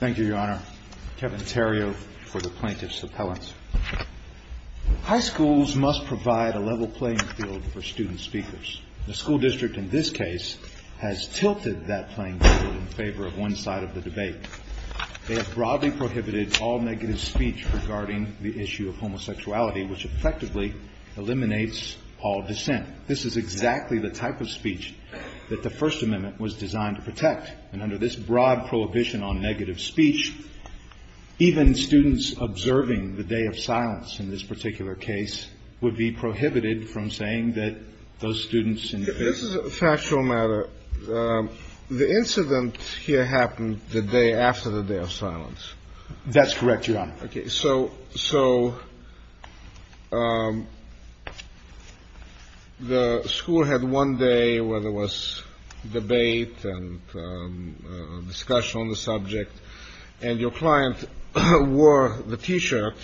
Thank you, Your Honor. Kevin Terrio for the Plaintiff's Appellants. High schools must provide a level playing field for student speakers. The school district in this case has tilted that playing field in favor of one side of the debate. They have broadly prohibited all negative speech regarding the issue of homosexuality, which effectively eliminates all dissent. This is exactly the type of speech that the First Amendment was designed to protect. And under this broad prohibition on negative speech, even students observing the day of silence in this particular case would be prohibited from saying that those students in this case This is a factual matter. The incident here happened the day after the day of silence. That's correct, Your Honor. So the school had one day where there was debate and discussion on the subject, and your client wore the T-shirt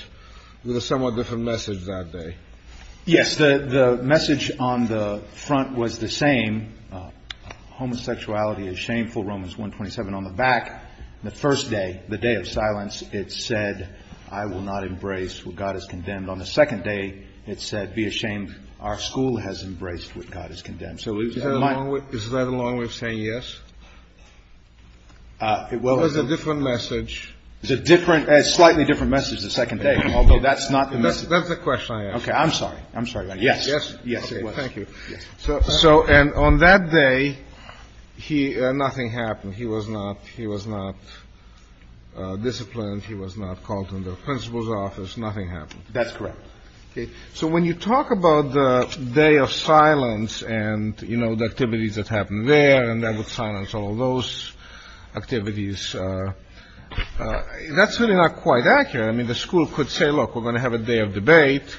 with a somewhat different message that day. Yes, the message on the front was the same. Homosexuality is shameful, Romans 127. On the back, the first day, the day of silence, it said, I will not embrace what God has condemned. On the second day, it said, Be ashamed. Our school has embraced what God has condemned. So is that along with saying yes? It will. Or is it a different message? It's a different – a slightly different message the second day, although that's not the message. That's the question I asked. Okay. I'm sorry. I'm sorry, Your Honor. Yes. Yes, it was. Thank you. So on that day, nothing happened. He was not disciplined. He was not called to the principal's office. Nothing happened. That's correct. So when you talk about the day of silence and, you know, the activities that happened there and that would silence all those activities, that's really not quite accurate. I mean, the school could say, look, we're going to have a day of debate.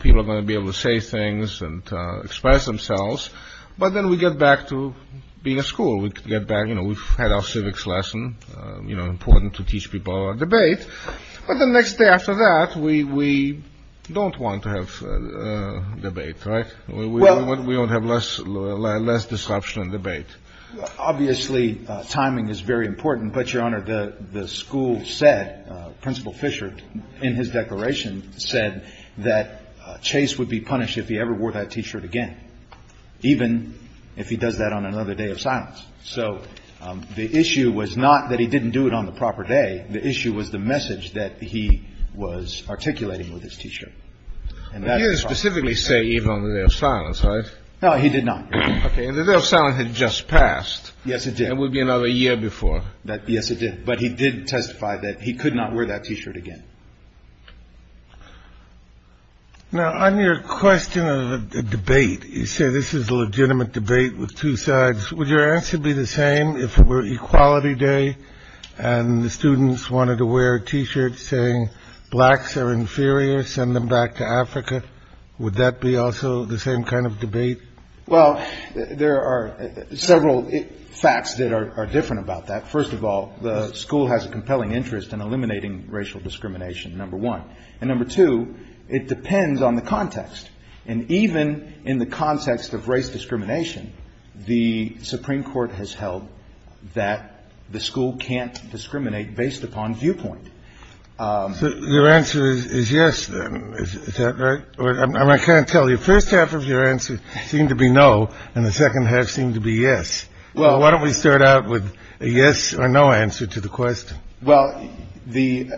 People are going to be able to say things and express themselves. But then we get back to being a school. We get back, you know, we've had our civics lesson, you know, important to teach people about debate. But the next day after that, we don't want to have debate, right? We want to have less disruption and debate. Obviously, timing is very important. But, Your Honor, the school said, Principal Fisher, in his declaration said that Chase would be punished if he ever wore that T-shirt again, even if he does that on another day of silence. So the issue was not that he didn't do it on the proper day. The issue was the message that he was articulating with his T-shirt. You didn't specifically say even on the day of silence, right? No, he did not. Okay. And the day of silence had just passed. Yes, it did. It would be another year before that. Yes, it did. But he did testify that he could not wear that T-shirt again. Now, on your question of the debate, you say this is a legitimate debate with two sides. Would your answer be the same if it were Equality Day and the students wanted to wear a T-shirt saying blacks are inferior? Send them back to Africa. Would that be also the same kind of debate? Well, there are several facts that are different about that. First of all, the school has a compelling interest in eliminating racial discrimination, number one. And number two, it depends on the context. And even in the context of race discrimination, the Supreme Court has held that the school can't discriminate based upon viewpoint. Your answer is yes, then. Is that right? I can't tell you. First half of your answer seemed to be no. And the second half seemed to be yes. Well, why don't we start out with a yes or no answer to the question? Well, the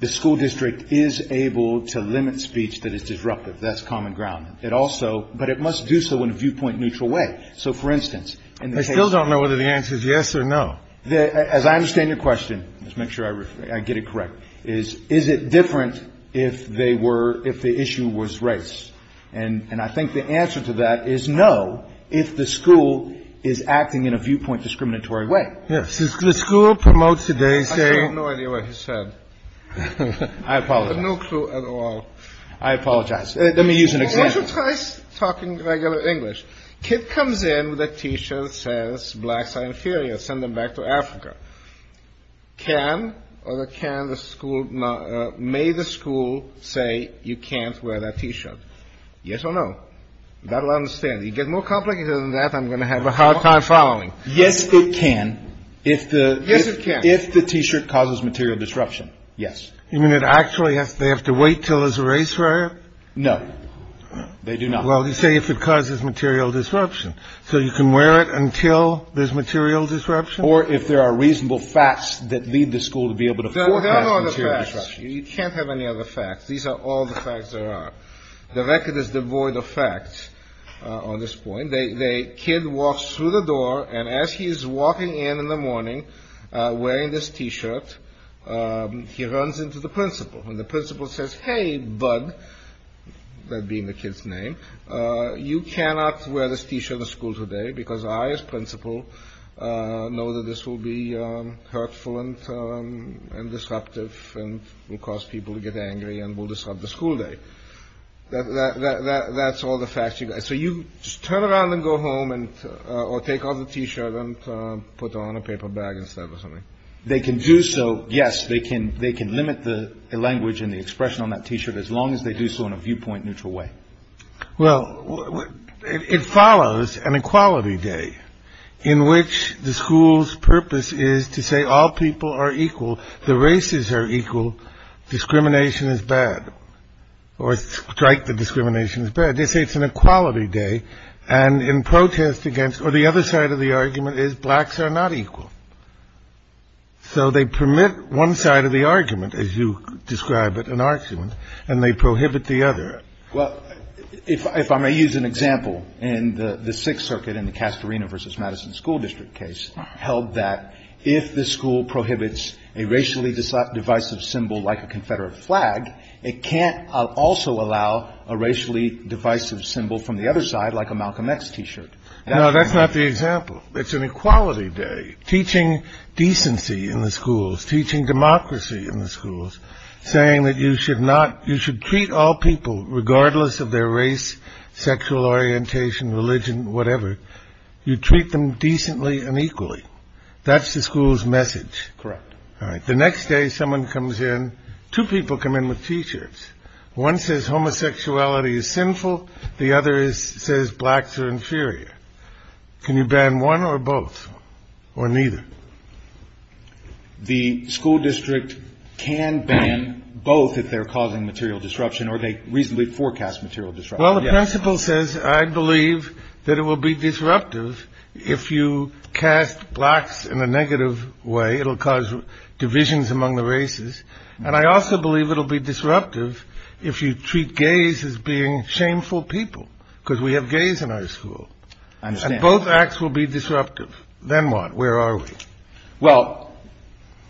the school district is able to limit speech that is disruptive. That's common ground. It also. But it must do so in a viewpoint neutral way. So, for instance, I still don't know whether the answer is yes or no. As I understand your question, let's make sure I get it correct, is is it different if they were if the issue was race? And I think the answer to that is no. If the school is acting in a viewpoint discriminatory way. Yes. The school promotes today. I have no idea what he said. I have no clue at all. I apologize. Let me use an example. regular English kid comes in with a T-shirt says blacks are inferior. Send them back to Africa. Can or can the school may the school say you can't wear that T-shirt? Yes or no. That'll understand. You get more complicated than that. I'm going to have a hard time following. Yes, it can. If the if the T-shirt causes material disruption. Yes. I mean, it actually has. They have to wait till there's a race for it. No, they do not. Well, you say if it causes material disruption. So you can wear it until there's material disruption or if there are reasonable facts that lead the school to be able to. You can't have any other facts. These are all the facts. The record is devoid of facts on this point. The kid walks through the door and as he is walking in in the morning wearing this T-shirt, he runs into the principal. The principal says, hey, bud, that being the kid's name, you cannot wear this T-shirt to school today because I, as principal, know that this will be hurtful and disruptive and will cause people to get angry and will disrupt the school day. That's all the facts. So you turn around and go home and take off the T-shirt and put on a paper bag instead of something they can do. So, yes, they can. They can limit the language and the expression on that T-shirt as long as they do so in a viewpoint neutral way. Well, it follows an equality day in which the school's purpose is to say all people are equal. The races are equal. Discrimination is bad or strike. The discrimination is bad. They say it's an equality day. And in protest against or the other side of the argument is blacks are not equal. So they permit one side of the argument, as you describe it, an argument, and they prohibit the other. Well, if I may use an example, and the Sixth Circuit in the Castorina versus Madison School District case held that if the school prohibits a racially divisive symbol like a Confederate flag, it can't also allow a racially divisive symbol from the other side, like a Malcolm X T-shirt. No, that's not the example. It's an equality day. Teaching decency in the schools, teaching democracy in the schools, saying that you should not you should treat all people regardless of their race, sexual orientation, religion, whatever. You treat them decently and equally. That's the school's message. Correct. All right. The next day, someone comes in. Two people come in with T-shirts. One says homosexuality is sinful. The other is says blacks are inferior. Can you ban one or both or neither? The school district can ban both if they're causing material disruption or they reasonably forecast material disruption. Well, the principal says, I believe that it will be disruptive if you cast blacks in a negative way. It'll cause divisions among the races. And I also believe it'll be disruptive if you treat gays as being shameful people because we have gays in our school. I understand. Both acts will be disruptive. Then what? Where are we? Well,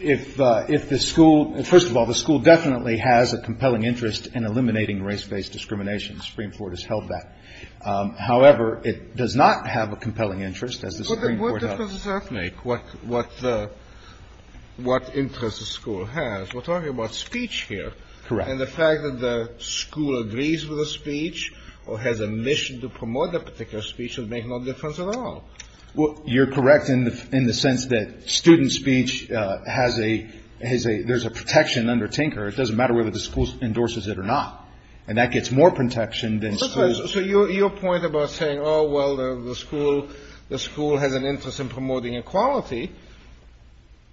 if if the school first of all, the school definitely has a compelling interest in eliminating race based discrimination. The Supreme Court has held that. However, it does not have a compelling interest as the Supreme Court does. What difference does that make? What what what interest the school has? We're talking about speech here. Correct. And the fact that the school agrees with the speech or has a mission to promote a particular speech will make no difference at all. Well, you're correct in the in the sense that student speech has a has a there's a protection under Tinker. It doesn't matter whether the school endorses it or not. And that gets more protection than. So your point about saying, oh, well, the school the school has an interest in promoting equality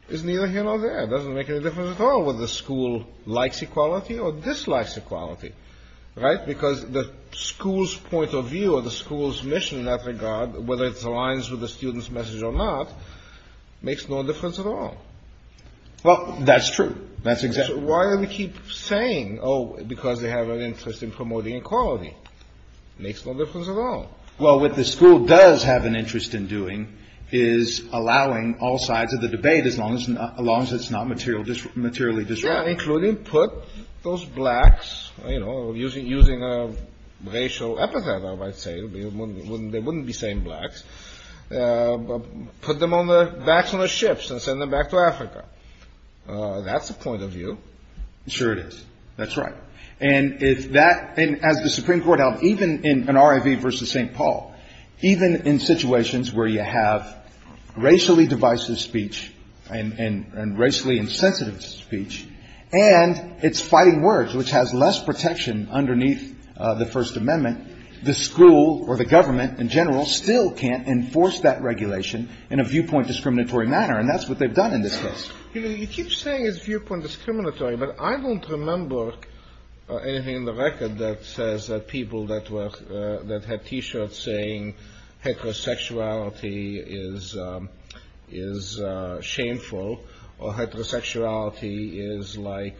is neither here nor there. It doesn't make any difference at all whether the school likes equality or dislikes equality. Right. Because the school's point of view or the school's mission in that regard, whether it aligns with the students message or not, makes no difference at all. Well, that's true. That's exactly why we keep saying, oh, because they have an interest in promoting equality makes no difference at all. Well, what the school does have an interest in doing is allowing all sides of the debate as long as as long as it's not material, just materially. Yeah. Including put those blacks, you know, using using a racial epithet. They wouldn't be saying blacks, but put them on the backs of the ships and send them back to Africa. That's the point of view. Sure it is. That's right. And if that as the Supreme Court held, even in an R.I.V. versus St. Paul, even in situations where you have racially divisive speech and racially insensitive speech and it's fighting words, which has less protection underneath the First Amendment, the school or the government in general still can't enforce that regulation in a viewpoint discriminatory manner. And that's what they've done in this case. You keep saying it's viewpoint discriminatory, but I don't remember anything in the record that says that people that were that had T-shirts saying heterosexuality is is shameful or heterosexuality is like.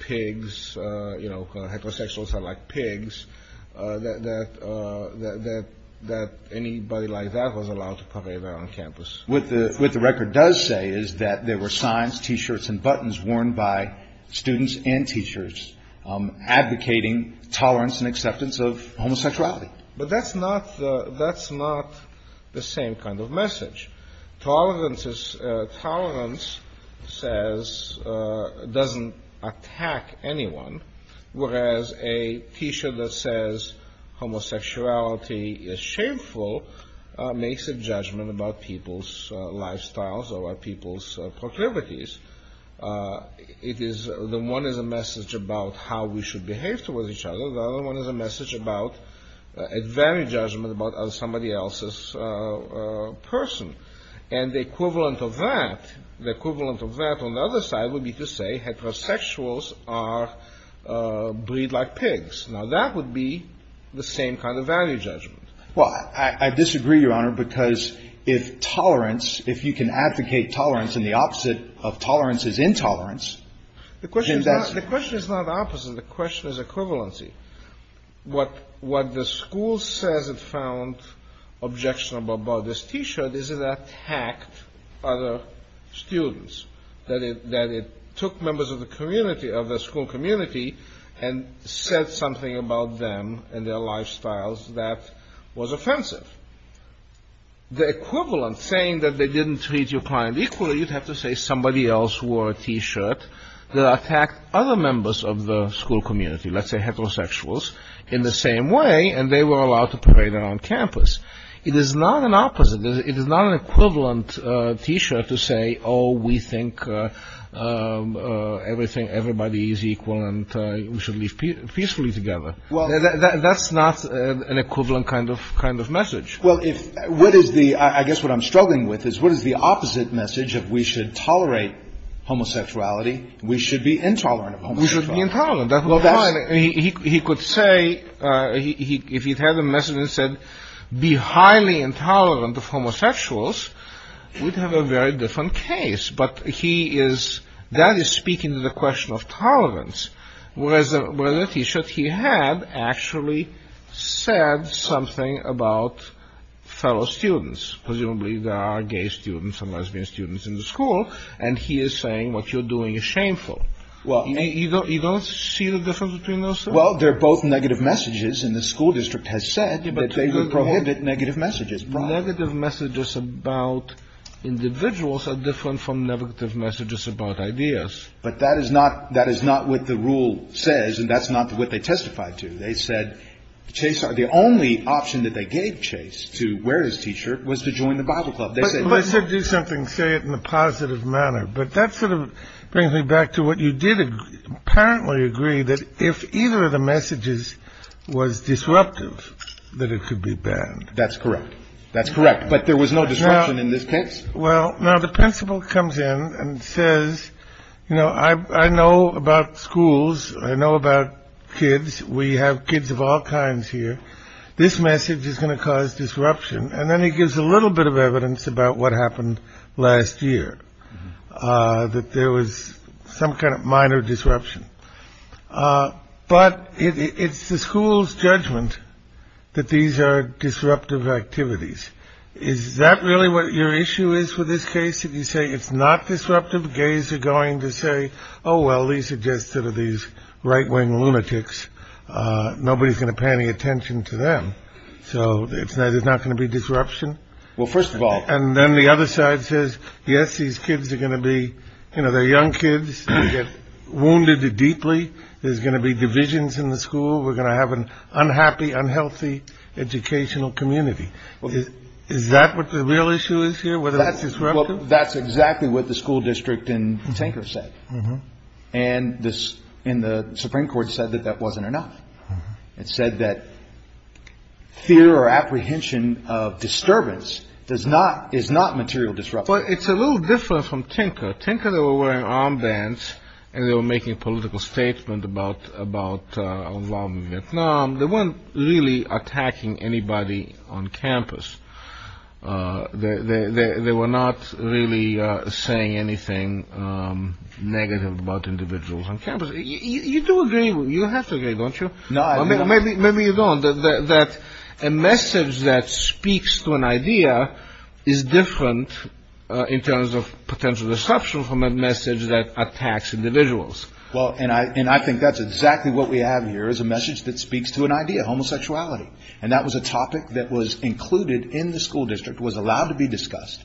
Pigs, you know, heterosexuals are like pigs that that that that anybody like that was allowed to parade around campus with the with the record does say is that there were signs, T-shirts and buttons worn by students and teachers advocating tolerance and acceptance of homosexuality. But that's not the that's not the same kind of message. Tolerance is tolerance says doesn't attack anyone. Whereas a T-shirt that says homosexuality is shameful makes a judgment about people's lifestyles or people's proclivities. It is the one is a message about how we should behave towards each other. The other one is a message about a value judgment about somebody else's person. And the equivalent of that, the equivalent of that on the other side would be to say heterosexuals are breed like pigs. Now, that would be the same kind of value judgment. Well, I disagree, Your Honor, because if tolerance if you can advocate tolerance and the opposite of tolerance is intolerance. The question is that the question is not opposite. The question is equivalency. What what the school says it found objectionable about this T-shirt is that attacked other students, that it that it took members of the community of the school community and said something about them and their lifestyles that was offensive. The equivalent saying that they didn't treat your client equally, you'd have to say somebody else wore a T-shirt that attacked other members of the school community. Let's say heterosexuals in the same way. And they were allowed to parade around campus. It is not an opposite. It is not an equivalent T-shirt to say, oh, we think everything. Everybody is equal and we should live peacefully together. Well, that's not an equivalent kind of kind of message. Well, if what is the I guess what I'm struggling with is what is the opposite message? If we should tolerate homosexuality, we should be intolerant. We should be intolerant. He could say he if he'd had a message and said, be highly intolerant of homosexuals. We'd have a very different case. But he is that is speaking to the question of tolerance. Whereas the T-shirt he had actually said something about fellow students. Presumably there are gay students and lesbian students in the school. And he is saying what you're doing is shameful. Well, you don't you don't see the difference between those. Well, they're both negative messages in the school district has said that they would prohibit negative messages. Negative messages about individuals are different from negative messages about ideas. But that is not that is not what the rule says. And that's not what they testified to. They said Chase are the only option that they gave Chase to wear his T-shirt was to join the Bible club. They said, let's do something, say it in a positive manner. But that sort of brings me back to what you did apparently agree that if either of the messages was disruptive, that it could be banned. That's correct. That's correct. But there was no disruption in this case. Well, now the principal comes in and says, you know, I know about schools. I know about kids. We have kids of all kinds here. This message is going to cause disruption. And then he gives a little bit of evidence about what happened last year, that there was some kind of minor disruption. But it's the school's judgment that these are disruptive activities. Is that really what your issue is with this case? If you say it's not disruptive, gays are going to say, oh, well, these are just sort of these right wing lunatics. Nobody's going to pay any attention to them. So it's not it's not going to be disruption. Well, first of all, and then the other side says, yes, these kids are going to be, you know, they're young kids get wounded deeply. There's going to be divisions in the school. We're going to have an unhappy, unhealthy educational community. Is that what the real issue is here? Whether that's disruptive. Well, that's exactly what the school district in Tinker said. And this in the Supreme Court said that that wasn't enough. It said that fear or apprehension of disturbance does not is not material disrupt. But it's a little different from Tinker. Tinker, they were wearing armbands and they were making a political statement about about Vietnam. They weren't really attacking anybody on campus. They were not really saying anything negative about individuals on campus. You do agree. You have to agree, don't you? No, I mean, maybe, maybe you don't. That a message that speaks to an idea is different in terms of potential disruption from a message that attacks individuals. Well, and I and I think that's exactly what we have here is a message that speaks to an idea of homosexuality. And that was a topic that was included in the school district was allowed to be discussed.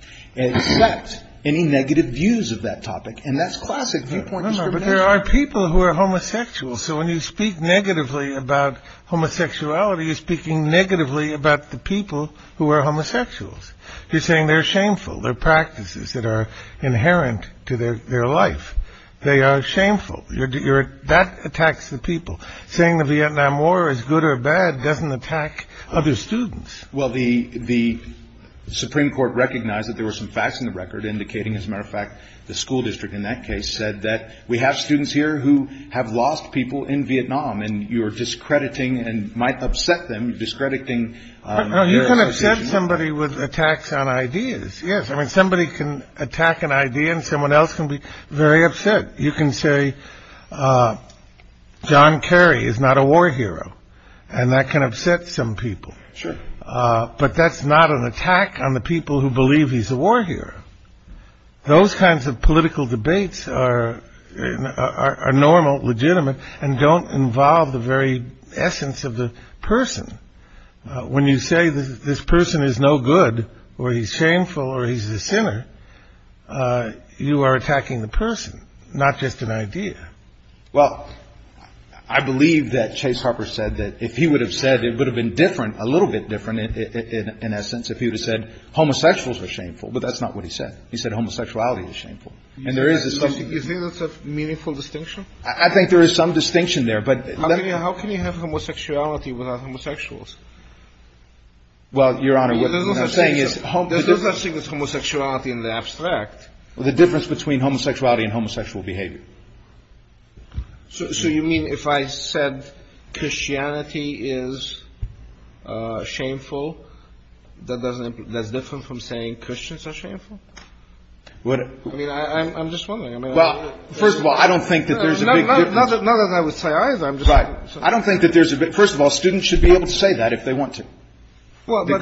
Any negative views of that topic. And that's classic. But there are people who are homosexual. So when you speak negatively about homosexuality, you're speaking negatively about the people who are homosexuals. You're saying they're shameful, their practices that are inherent to their life. They are shameful. That attacks the people saying the Vietnam War is good or bad, doesn't attack other students. Well, the the Supreme Court recognized that there were some facts in the record indicating, as a matter of fact, the school district in that case said that we have students here who have lost people in Vietnam and you're discrediting and might upset them discrediting. You can upset somebody with attacks on ideas. Yes. I mean, somebody can attack an idea and someone else can be very upset. You can say John Kerry is not a war hero and that can upset some people. Sure. But that's not an attack on the people who believe he's a war hero. Those kinds of political debates are normal, legitimate and don't involve the very essence of the person. When you say this person is no good or he's shameful or he's a sinner, you are attacking the person, not just an idea. Well, I believe that Chase Harper said that if he would have said it would have been different, a little bit different in essence, if he would have said homosexuals are shameful. But that's not what he said. He said homosexuality is shameful. And there is a meaningful distinction. I think there is some distinction there. But how can you have homosexuality without homosexuals? Well, Your Honor, what I'm saying is there's no such thing as homosexuality in the abstract. The difference between homosexuality and homosexual behavior. So you mean if I said Christianity is shameful, that's different from saying Christians are shameful? I mean, I'm just wondering. Well, first of all, I don't think that there's a big difference. Not that I would say either. I'm just. Right. I don't think that there's a bit. First of all, students should be able to say that if they want to. Well, we're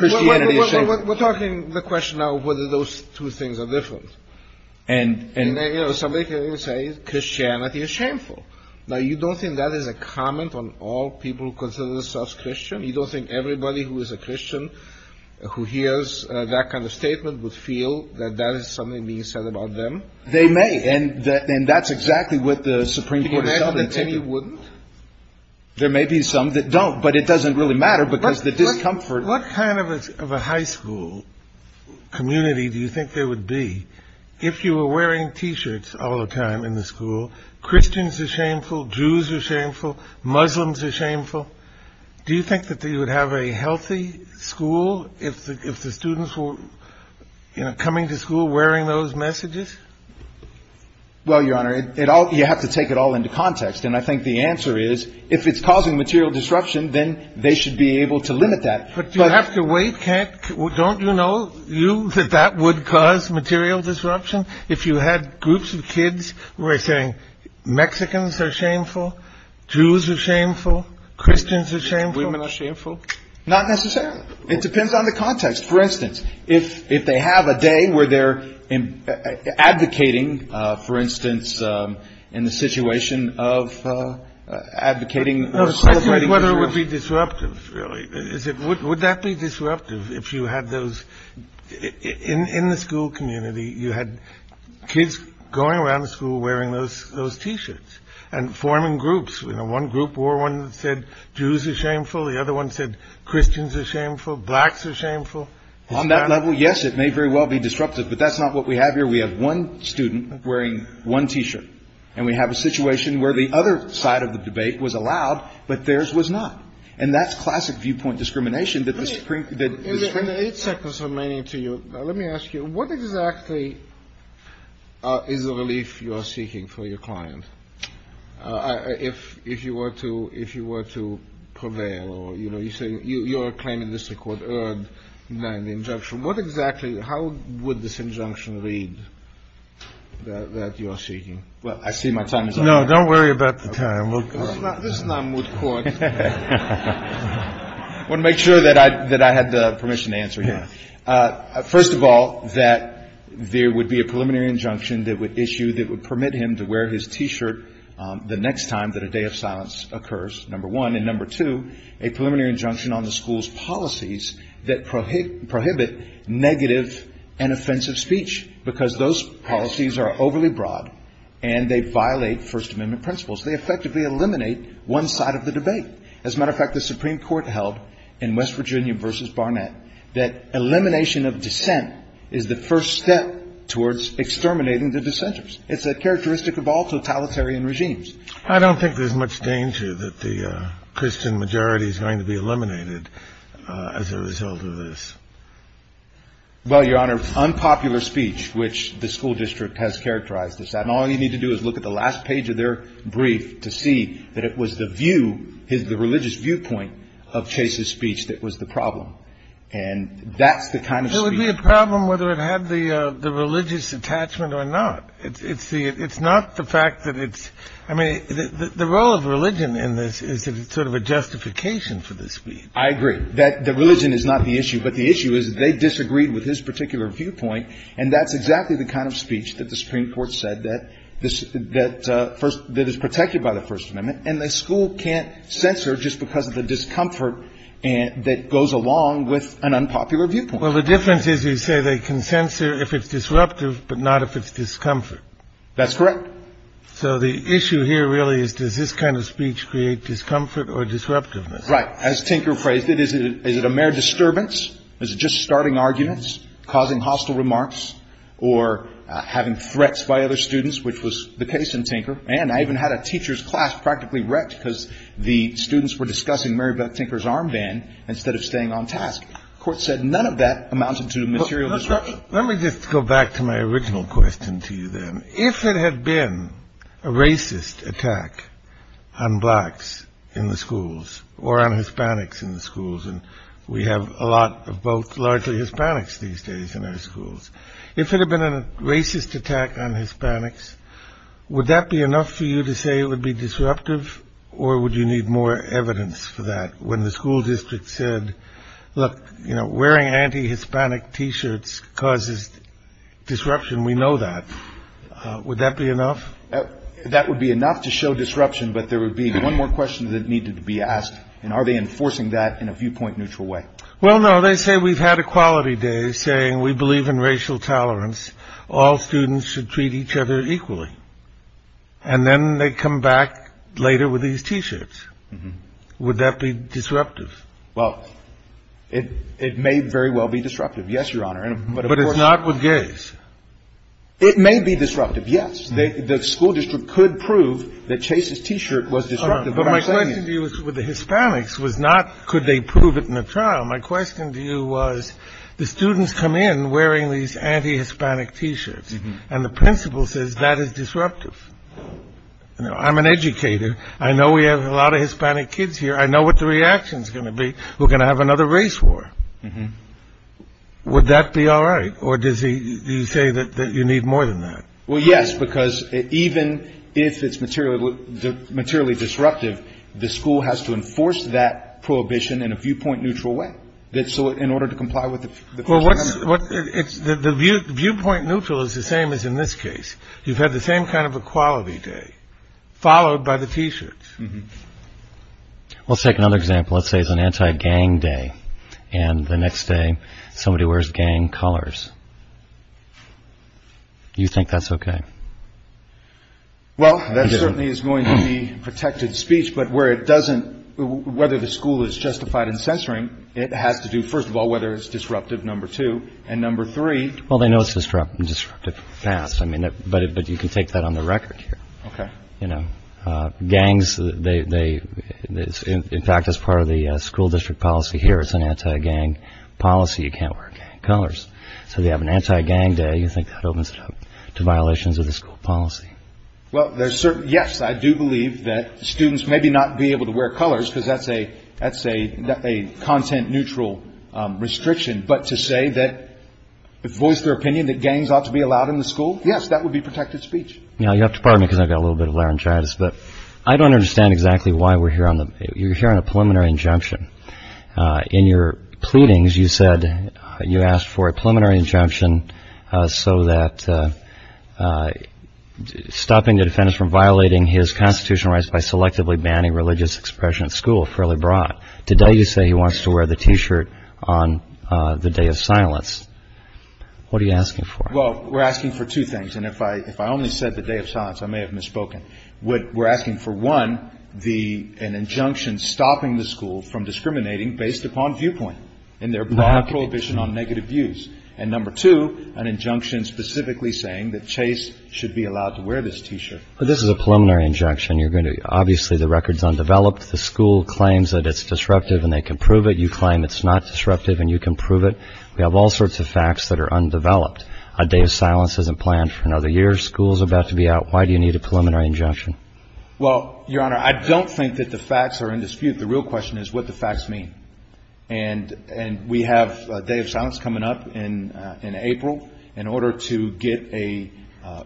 talking the question of whether those two things are different. And somebody can say Christianity is shameful. Now, you don't think that is a comment on all people who consider themselves Christian? You don't think everybody who is a Christian who hears that kind of statement would feel that that is something being said about them? They may. And then that's exactly what the Supreme Court. You wouldn't. There may be some that don't, but it doesn't really matter because the discomfort. What kind of a high school community do you think there would be if you were wearing T-shirts all the time in the school? Christians are shameful. Jews are shameful. Muslims are shameful. Do you think that you would have a healthy school if the students were coming to school wearing those messages? Well, Your Honor, it all you have to take it all into context. And I think the answer is if it's causing material disruption, then they should be able to limit that. But you have to wait. Don't you know that that would cause material disruption. If you had groups of kids were saying Mexicans are shameful. Jews are shameful. Christians are shameful. Women are shameful. Not necessarily. It depends on the context. For instance, if if they have a day where they're advocating, for instance, in the situation of advocating. Whether it would be disruptive. Is it would that be disruptive if you had those in the school community? You had kids going around the school wearing those those T-shirts and forming groups. You know, one group or one said Jews are shameful. The other one said Christians are shameful. Blacks are shameful on that level. Yes, it may very well be disruptive. But that's not what we have here. We have one student wearing one T-shirt. And we have a situation where the other side of the debate was allowed, but there's was not. And that's classic viewpoint discrimination that the Supreme Court did. It's a concern, meaning to you. Let me ask you, what exactly is the relief you are seeking for your client? If if you were to if you were to prevail or, you know, you say you're claiming this record and then the injunction. What exactly? How would this injunction read that you are seeking? Well, I see my time is up. No, don't worry about the time. This is not moot court. I want to make sure that I that I had the permission to answer. Yeah. First of all, that there would be a preliminary injunction that would issue that would permit him to wear his T-shirt the next time that a day of silence occurs. Number one. And number two, a preliminary injunction on the school's policies that prohibit prohibit negative and offensive speech because those policies are overly broad and they violate First Amendment principles. They effectively eliminate one side of the debate. As a matter of fact, the Supreme Court held in West Virginia versus Barnett that elimination of dissent is the first step towards exterminating the dissenters. It's a characteristic of all totalitarian regimes. I don't think there's much danger that the Christian majority is going to be eliminated as a result of this. Well, Your Honor, unpopular speech, which the school district has characterized as that. And all you need to do is look at the last page of their brief to see that it was the view is the religious viewpoint of Chase's speech that was the problem. And that's the kind of. It would be a problem whether it had the religious attachment or not. It's the it's not the fact that it's I mean, the role of religion in this is sort of a justification for this. I agree that the religion is not the issue. But the issue is they disagreed with his particular viewpoint. And that's exactly the kind of speech that the Supreme Court said that this that first that is protected by the First Amendment. And the school can't censor just because of the discomfort that goes along with an unpopular viewpoint. Well, the difference is you say they can censor if it's disruptive, but not if it's discomfort. That's correct. So the issue here really is, does this kind of speech create discomfort or disruptiveness? Right. As Tinker phrased it, is it a mere disturbance? Is it just starting arguments, causing hostile remarks or having threats by other students, which was the case in Tinker? And I even had a teacher's class practically wrecked because the students were discussing Mary Beth Tinker's armband instead of staying on task. Court said none of that amounted to material disruption. Let me just go back to my original question to you, then, if it had been a racist attack on blacks in the schools or on Hispanics in the schools. And we have a lot of both largely Hispanics these days in our schools. If it had been a racist attack on Hispanics, would that be enough for you to say it would be disruptive or would you need more evidence for that? When the school district said, look, you know, wearing anti-Hispanic T-shirts causes disruption. We know that. Would that be enough? That would be enough to show disruption. But there would be one more question that needed to be asked. And are they enforcing that in a viewpoint neutral way? Well, no, they say we've had equality days saying we believe in racial tolerance. All students should treat each other equally. And then they come back later with these T-shirts. Would that be disruptive? Well, it it may very well be disruptive. Yes, Your Honor. But it's not with gays. It may be disruptive. Yes. The school district could prove that Chase's T-shirt was disruptive. The Hispanics was not. Could they prove it in the trial? My question to you was the students come in wearing these anti-Hispanic T-shirts and the principal says that is disruptive. I'm an educator. I know we have a lot of Hispanic kids here. I know what the reaction is going to be. We're going to have another race war. Would that be all right? Or does he say that you need more than that? Well, yes, because even if it's material, materially disruptive, the school has to enforce that prohibition in a viewpoint neutral way. That's so in order to comply with the viewpoint neutral is the same as in this case. You've had the same kind of equality day followed by the T-shirts. Let's take another example. Let's say it's an anti-gang day and the next day somebody wears gang colors. Do you think that's OK? Well, that certainly is going to be protected speech, but where it doesn't, whether the school is justified in censoring, it has to do, first of all, whether it's disruptive. Number two and number three. Well, they know it's disruptive and disruptive fast. I mean, but but you can take that on the record here. You know, gangs, they in fact, as part of the school district policy here, it's an anti-gang policy. You can't wear colors. So they have an anti-gang day. You think that opens it up to violations of the school policy? Well, there's certain. Yes, I do believe that students may be not be able to wear colors because that's a that's a content neutral restriction. But to say that voice their opinion, that gangs ought to be allowed in the school. Yes, that would be protected speech. Now, you have to pardon me because I've got a little bit of laryngitis, but I don't understand exactly why we're here on the you're here on a preliminary injunction in your pleadings. You said you asked for a preliminary injunction so that stopping the defense from violating his constitutional rights by selectively banning religious expression at school fairly broad. Today, you say he wants to wear the T-shirt on the day of silence. What are you asking for? Well, we're asking for two things. And if I if I only said the day of silence, I may have misspoken. What we're asking for one, the an injunction stopping the school from discriminating based upon viewpoint and their prohibition on negative views. And number two, an injunction specifically saying that Chase should be allowed to wear this T-shirt. But this is a preliminary injection. You're going to obviously the record's undeveloped. The school claims that it's disruptive and they can prove it. You claim it's not disruptive and you can prove it. We have all sorts of facts that are undeveloped. A day of silence isn't planned for another year. School's about to be out. Why do you need a preliminary injunction? Well, your honor, I don't think that the facts are in dispute. The real question is what the facts mean. And and we have a day of silence coming up in in April in order to get a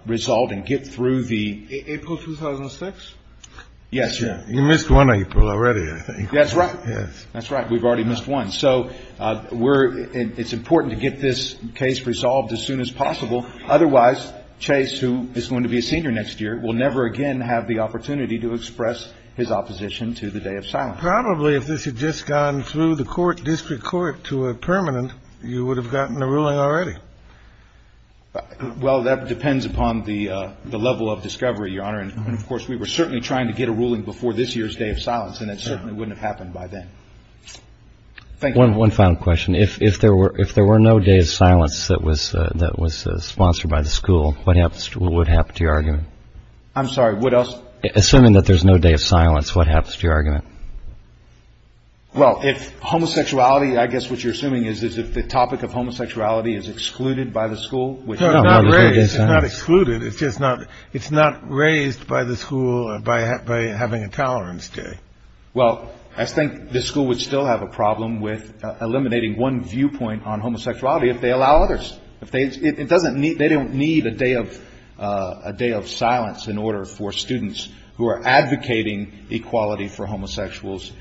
result and get through the April 2006. Yes. You missed one April already. I think that's right. Yes, that's right. We've already missed one. So we're it's important to get this case resolved as soon as possible. Otherwise, Chase, who is going to be a senior next year, will never again have the opportunity to express his opposition to the day of silence. Probably if this had just gone through the court district court to a permanent, you would have gotten a ruling already. Well, that depends upon the level of discovery, your honor. And of course, we were certainly trying to get a ruling before this year's day of silence. And that certainly wouldn't have happened by then. Thank you. One final question. If if there were if there were no day of silence, that was that was sponsored by the school. What happens to what would happen to your argument? I'm sorry, what else? Assuming that there's no day of silence, what happens to your argument? Well, if homosexuality, I guess what you're assuming is, is that the topic of homosexuality is excluded by the school. It's not excluded. It's just not it's not raised by the school by by having a tolerance day. Well, I think the school would still have a problem with eliminating one viewpoint on homosexuality if they allow others. If they it doesn't mean they don't need a day of a day of silence in order for students who are advocating equality for homosexuals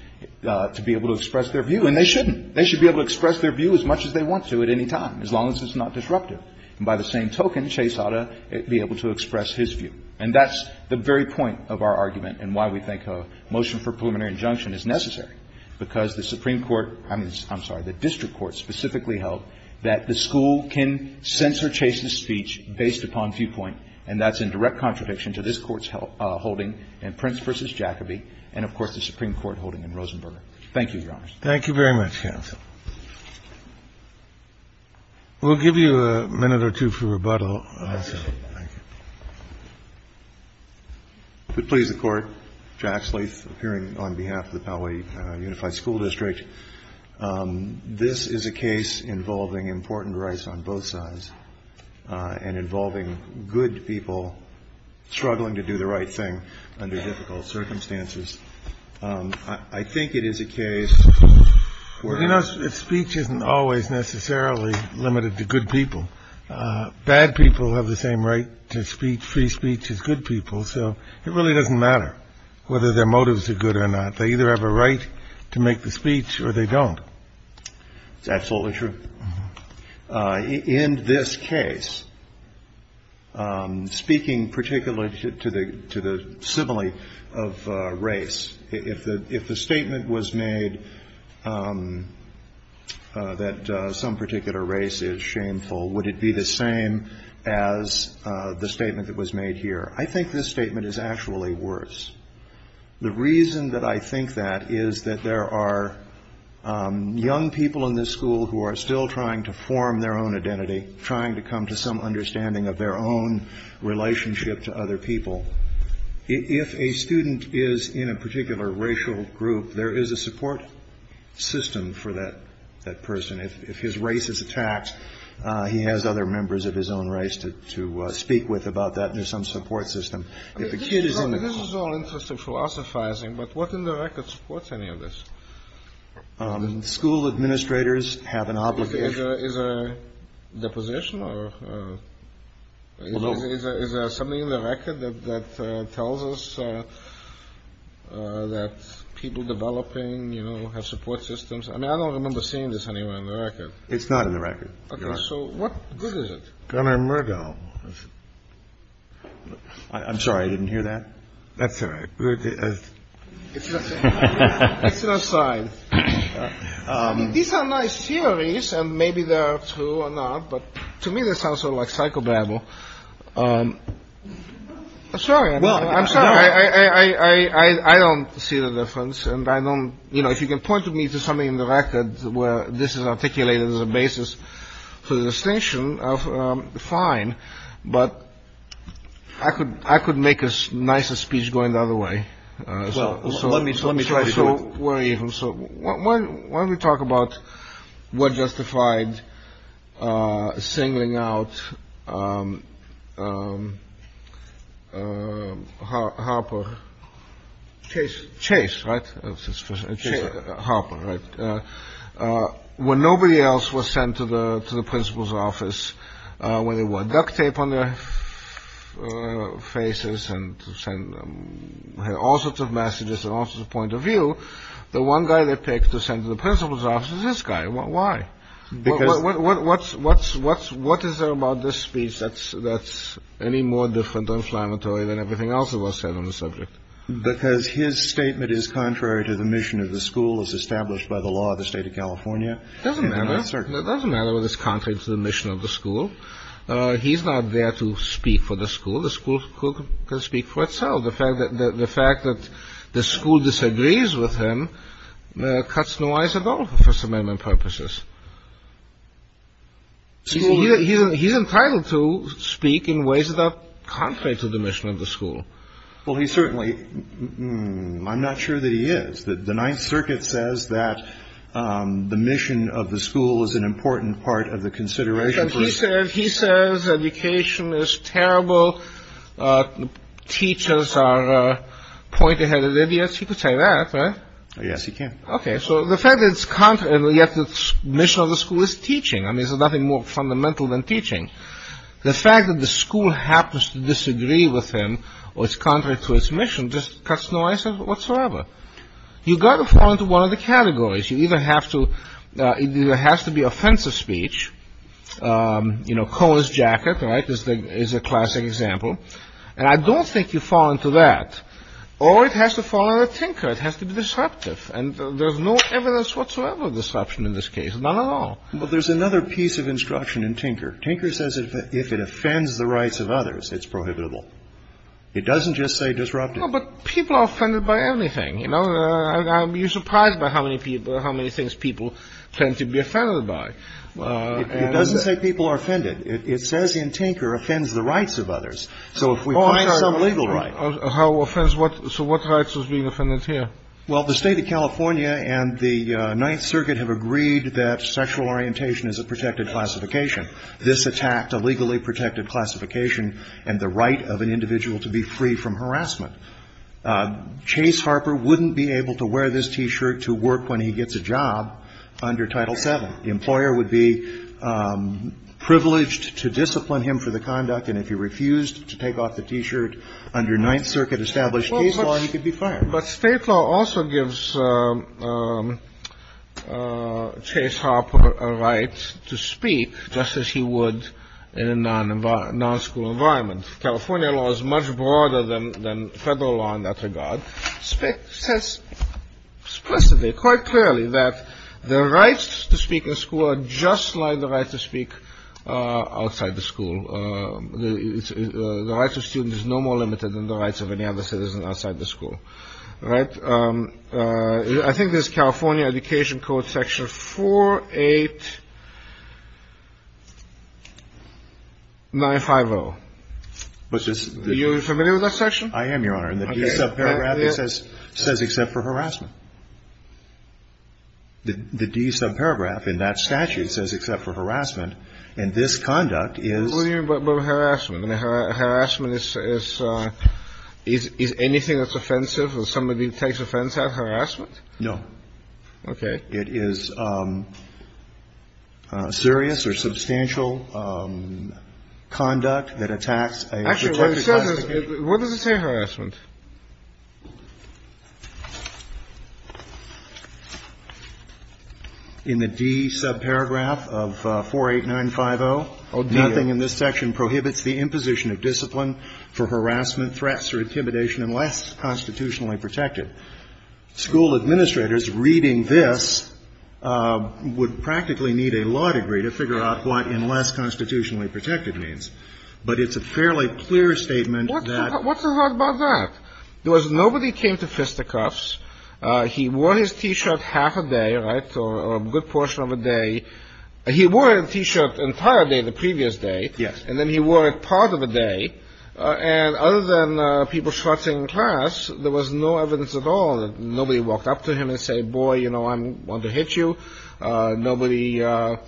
to be able to express their view. And they shouldn't. They should be able to express their view as much as they want to at any time, as long as it's not disruptive. And by the same token, Chase ought to be able to express his view. And that's the very point of our argument and why we think a motion for preliminary injunction is necessary, because the Supreme Court, I mean, I'm sorry, the district court specifically held that the school can censor Chase's speech based upon viewpoint. And that's in direct contradiction to this Court's holding in Prince v. Jacobi and, of course, the Supreme Court holding in Rosenberger. Thank you, Your Honors. Thank you very much, counsel. We'll give you a minute or two for rebuttal. If it please the Court, Jack Sleeth, appearing on behalf of the Poway Unified School District. This is a case involving important rights on both sides and involving good people struggling to do the right thing under difficult circumstances. I think it is a case where. You know, speech isn't always necessarily limited to good people. Bad people have the same right to free speech as good people. So it really doesn't matter whether their motives are good or not. They either have a right to make the speech or they don't. It's absolutely true. In this case, speaking particularly to the to the simile of race, if the if the statement was made that some particular race is shameful, would it be the same as the statement that was made here? I think this statement is actually worse. The reason that I think that is that there are young people in this school who are still trying to form their own identity, trying to come to some understanding of their own relationship to other people. If a student is in a particular racial group, there is a support system for that person. If his race is attacked, he has other members of his own race to speak with about that. There's some support system. This is all interesting philosophizing. But what in the record supports any of this? School administrators have an obligation. Is a deposition or is there something in the record that tells us that people developing, you know, have support systems? I mean, I don't remember seeing this anywhere in the record. It's not in the record. So what good is it? I'm sorry, I didn't hear that. That's right. These are nice theories and maybe they're true or not. But to me, this sounds like psychobabble. Well, I'm sorry, I don't see the difference. And I don't know if you can point to me to something in the record where this is articulated as a basis for the distinction of the fine, but I could I could make us nicer speech going the other way. So let me let me try. So we're even. So why don't we talk about what justified singling out Harper? Chase Chase. Right. Harper. Right. When nobody else was sent to the to the principal's office, when they were duct tape on their faces and send all sorts of messages and also the point of view, the one guy they picked to send to the principal's office is this guy. Why? Because what's what's what's what is there about this speech? That's that's any more different inflammatory than everything else that was said on the subject. Because his statement is contrary to the mission of the school as established by the law of the state of California. Doesn't matter. It doesn't matter what is contrary to the mission of the school. He's not there to speak for the school. The school could speak for itself. The fact that the fact that the school disagrees with him cuts noise at all. First Amendment purposes. He's entitled to speak in ways that are contrary to the mission of the school. Well, he certainly. I'm not sure that he is. The Ninth Circuit says that the mission of the school is an important part of the consideration. He said he says education is terrible. Teachers are a point ahead of idiots. He could say that. Yes, he can. OK. So the fact that it's contrary to the mission of the school is teaching. I mean, there's nothing more fundamental than teaching. The fact that the school happens to disagree with him or is contrary to its mission just cuts noise whatsoever. You've got to fall into one of the categories. You either have to. It has to be offensive speech. You know, Cohen's jacket. Right. This is a classic example. And I don't think you fall into that. Or it has to fall on a tinker. It has to be disruptive. And there's no evidence whatsoever of disruption in this case. None at all. But there's another piece of instruction in Tinker. Tinker says if it offends the rights of others, it's prohibitable. It doesn't just say disruptive. But people are offended by everything. You know, you're surprised by how many people how many things people tend to be offended by. It doesn't say people are offended. It says in Tinker offends the rights of others. So if we find some legal right. How offense what. So what rights is being offended here. Well, the State of California and the Ninth Circuit have agreed that sexual orientation is a protected classification. This attacked a legally protected classification and the right of an individual to be free from harassment. Chase Harper wouldn't be able to wear this T-shirt to work when he gets a job under Title VII. The employer would be privileged to discipline him for the conduct. And if he refused to take off the T-shirt under Ninth Circuit established case law, he could be fired. But state law also gives Chase Harper a right to speak just as he would in a non-school environment. California law is much broader than federal law in that regard. State says explicitly, quite clearly, that the rights to speak in school are just like the right to speak outside the school. The right to student is no more limited than the rights of any other citizen outside the school. Right. I think there's California Education Code Section 48950, which is familiar with that section. I am, Your Honor. And the paragraph says says except for harassment. The D sub paragraph in that statute says except for harassment. And this conduct is. What do you mean by harassment? Harassment is anything that's offensive or somebody takes offense at harassment? No. Okay. It is serious or substantial conduct that attacks a protected class of people. Actually, what does it say harassment? In the D sub paragraph of 48950, nothing in this section prohibits the imposition of discipline for harassment, threats, or intimidation unless constitutionally protected. School administrators reading this would practically need a law degree to figure out what unless constitutionally protected means. But it's a fairly clear statement that. What's so hard about that? There was nobody came to fisticuffs. He wore his T-shirt half a day or a good portion of a day. He wore a T-shirt entire day the previous day. Yes. And then he wore it part of the day. And other than people trotting class, there was no evidence at all. Nobody walked up to him and say, boy, you know, I want to hit you. There was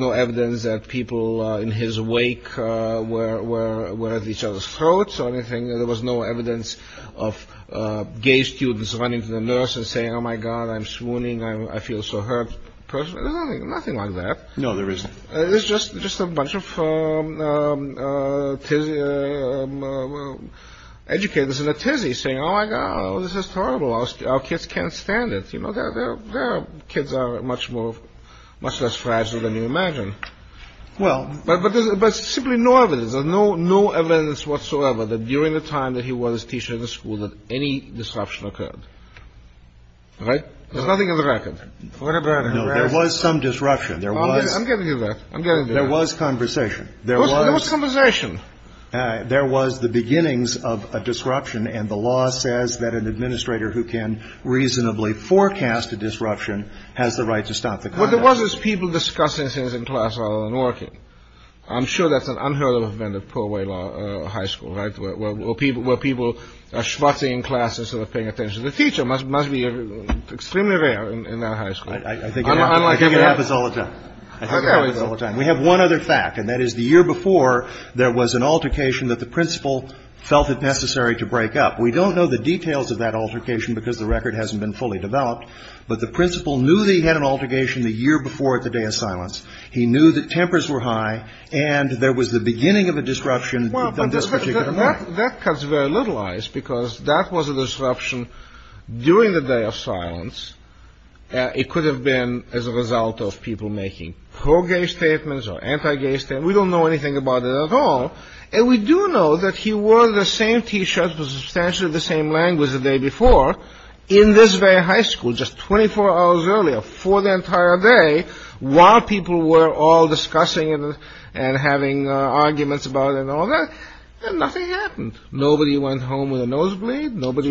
no evidence that people in his wake were at each other's throats or anything. There was no evidence of gay students running to the nurse and saying, oh, my God, I'm swooning. I feel so hurt. Nothing like that. No, there isn't. It's just a bunch of educators in a tizzy saying, oh, my God, this is horrible. We've lost our kids, our kids can't stand it. You know, there are kids that are much more, much less fragile than you imagine. Well ---- But there's simply no evidence or no evidence whatsoever that during the time that he was a teacher in the school that any disruption occurred. Right? Right. There is nothing on the record. Yeah, but there was some disruption. There was. I'm getting to that. There was conversation. There was conversation. There was the beginnings of a disruption. And the law says that an administrator who can reasonably forecast a disruption has the right to stop the conduct. What there was was people discussing things in class rather than working. I'm sure that's an unheard of event at Polway High School, right, where people are schvartzing in class instead of paying attention to the teacher. It must be extremely rare in that high school. I think it happens all the time. We have one other fact, and that is the year before, there was an altercation that the principal felt it necessary to break up. We don't know the details of that altercation because the record hasn't been fully developed, but the principal knew that he had an altercation the year before at the Day of Silence. He knew that tempers were high, and there was the beginning of a disruption on this particular night. Well, but that cuts very little ice because that was a disruption during the Day of Silence. It could have been as a result of people making pro-gay statements or anti-gay statements. We don't know anything about it at all. And we do know that he wore the same T-shirt with substantially the same language the day before in this very high school just 24 hours earlier for the entire day while people were all discussing and having arguments about it and all that. And nothing happened. Nobody went home with a nosebleed. There was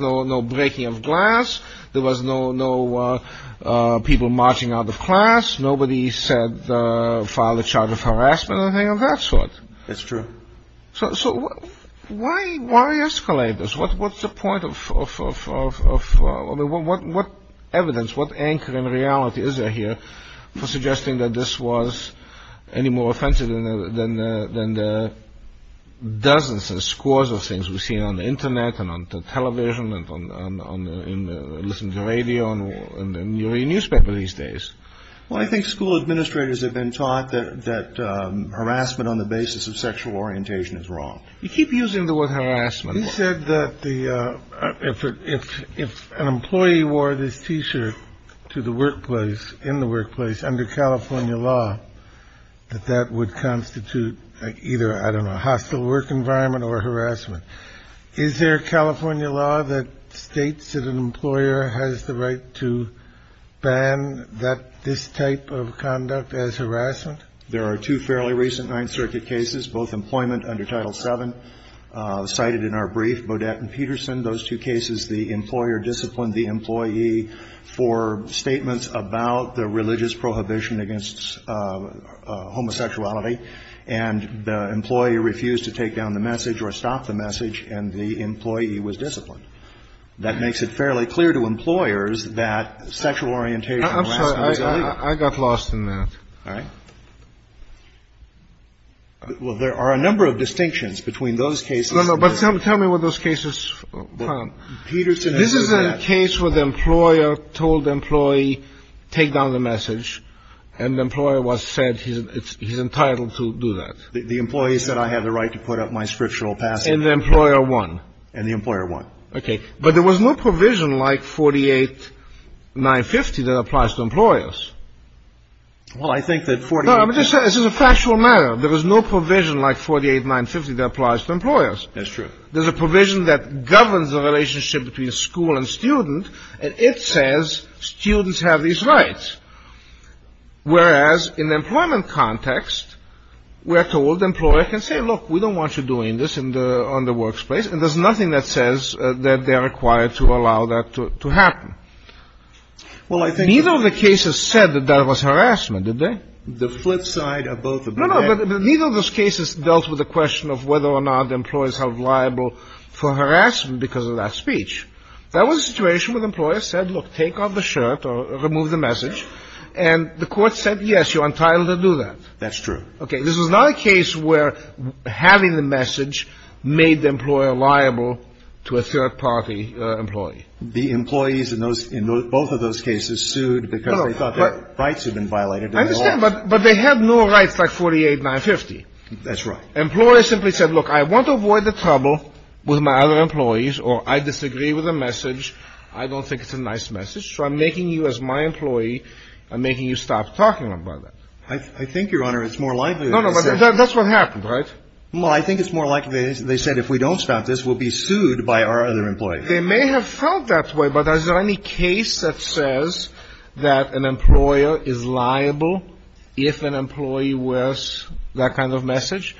no breaking of glass. There was no people marching out of class. Nobody filed a charge of harassment or anything of that sort. That's true. So why escalate this? What's the point of—what evidence, what anchor in reality is there here for suggesting that this was any more offensive than the dozens and scores of things we've seen on the Internet and on television and listening to radio and in the newspaper these days? Well, I think school administrators have been taught that harassment on the basis of sexual orientation is wrong. You keep using the word harassment. You said that if an employee wore this T-shirt to the workplace, in the workplace, under California law, that that would constitute either, I don't know, a hostile work environment or harassment. Is there a California law that states that an employer has the right to ban this type of conduct as harassment? There are two fairly recent Ninth Circuit cases, both employment under Title VII, cited in our brief. Bodette and Peterson, those two cases, the employer disciplined the employee for statements about the religious prohibition against homosexuality, and the employee refused to take down the message or stop the message, and the employee was disciplined. That makes it fairly clear to employers that sexual orientation and harassment is illegal. I'm sorry. I got lost in that. All right. Well, there are a number of distinctions between those cases. No, no. But tell me what those cases found. Peterson. This is a case where the employer told the employee, take down the message, and the employer was said he's entitled to do that. The employee said, I have the right to put up my scriptural passage. And the employer won. And the employer won. Okay. But there was no provision like 48-950 that applies to employers. Well, I think that 48- No, I'm just saying this is a factual matter. There was no provision like 48-950 that applies to employers. That's true. There's a provision that governs the relationship between school and student, and it says students have these rights. Whereas in the employment context, we're told the employer can say, look, we don't want you doing this on the workplace, and there's nothing that says that they're required to allow that to happen. Well, I think- Neither of the cases said that that was harassment, did they? The flip side of both of them. No, no. But neither of those cases dealt with the question of whether or not the employer is held liable for harassment because of that speech. That was a situation where the employer said, look, take off the shirt or remove the message, and the court said, yes, you're entitled to do that. That's true. Okay. This was not a case where having the message made the employer liable to a third-party employee. The employees in both of those cases sued because they thought their rights had been violated. I understand, but they had no rights like 48-950. That's right. Employers simply said, look, I want to avoid the trouble with my other employees, or I disagree with the message. I don't think it's a nice message, so I'm making you, as my employee, I'm making you stop talking about that. I think, Your Honor, it's more likely. No, no, but that's what happened, right? Well, I think it's more likely they said if we don't stop this, we'll be sued by our other employees. They may have felt that way, but is there any case that says that an employer is liable if an employee wears that kind of message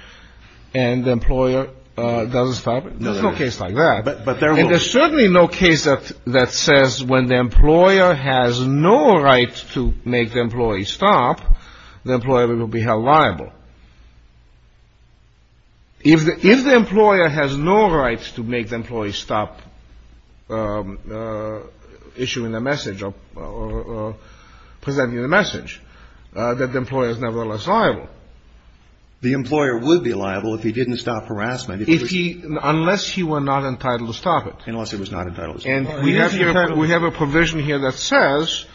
and the employer doesn't stop it? There's no case like that. But there will be. There's certainly no case that says when the employer has no right to make the employee stop, the employer will be held liable. If the employer has no right to make the employee stop issuing the message or presenting the message, that the employer is nevertheless liable. The employer would be liable if he didn't stop harassment. If he unless he were not entitled to stop it. Unless it was not entitled. And we have here we have a provision here that says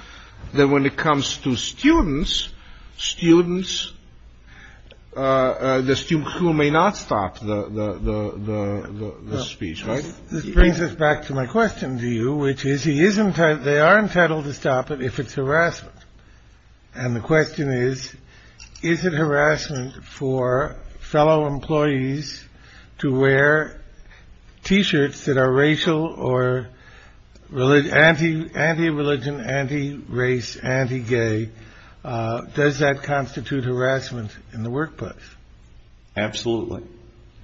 that when it comes to students, students, the students who may not stop the speech. This brings us back to my question to you, which is he isn't they are entitled to stop it if it's harassment. And the question is, is it harassment for fellow employees to wear T-shirts that are racial or religion, anti-religion, anti-race, anti-gay? Does that constitute harassment in the workplace? Absolutely.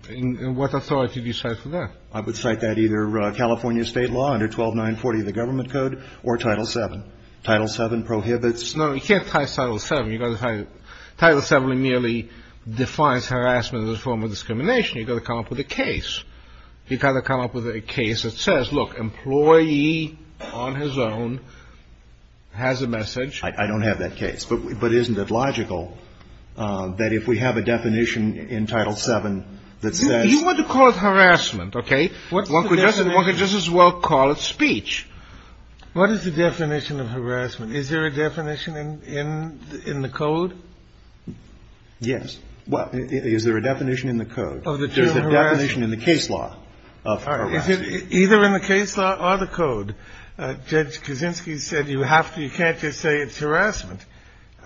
And what authority do you cite for that? I would cite that either California state law under 12 940, the government code or Title VII. Title VII prohibits. No, you can't title VII. Title VII merely defines harassment as a form of discrimination. You've got to come up with a case. You've got to come up with a case that says, look, employee on his own has a message. I don't have that case. But isn't it logical that if we have a definition in Title VII that says. You want to call it harassment. OK. One could just as well call it speech. What is the definition of harassment? Is there a definition in the code? Yes. Well, is there a definition in the code of the definition in the case law of either in the case law or the code? Judge Kaczynski said you have to. You can't just say it's harassment.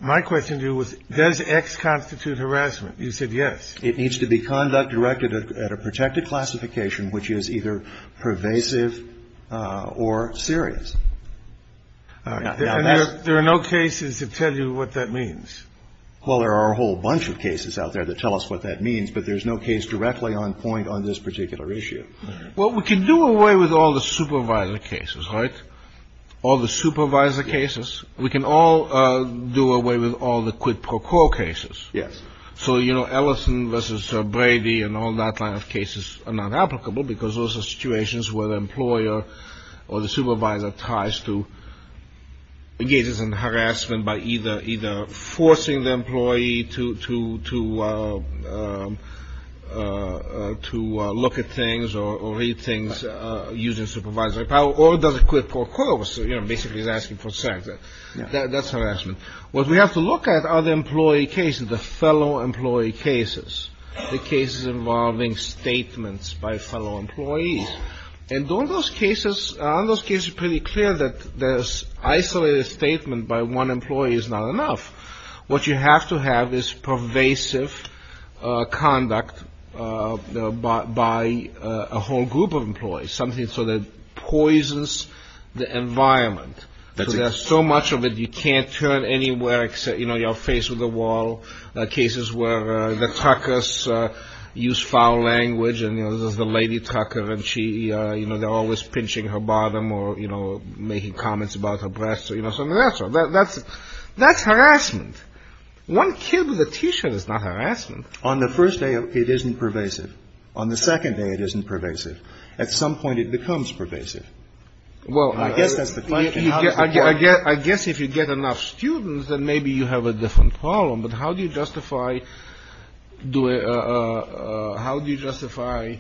My question to you was, does X constitute harassment? You said yes. It needs to be conduct directed at a protected classification, which is either pervasive or serious. There are no cases to tell you what that means. Well, there are a whole bunch of cases out there that tell us what that means. But there's no case directly on point on this particular issue. Well, we can do away with all the supervisor cases. Right. All the supervisor cases. We can all do away with all the quid pro quo cases. Yes. So, you know, Ellison versus Brady and all that line of cases are not applicable because those are situations where the employer or the supervisor ties to engages in harassment by either either forcing the employee to to to to look at things or read things using supervisory power or does a quid pro quo. So, you know, basically he's asking for sex. That's harassment. What we have to look at are the employee cases, the fellow employee cases, the cases involving statements by fellow employees. And don't those cases on those cases pretty clear that this isolated statement by one employee is not enough. What you have to have is pervasive conduct by a whole group of employees, something so that poisons the environment. There's so much of it you can't turn anywhere except, you know, your face with a wall. Cases where the Tucker's use foul language and, you know, this is the lady Tucker. And she, you know, they're always pinching her bottom or, you know, making comments about her breasts or, you know, some of that stuff. That's that's harassment. One kid with a T-shirt is not harassment. On the first day, it isn't pervasive. On the second day, it isn't pervasive. At some point it becomes pervasive. Well, I guess that's the question. I guess if you get enough students, then maybe you have a different problem. But how do you justify do it? How do you justify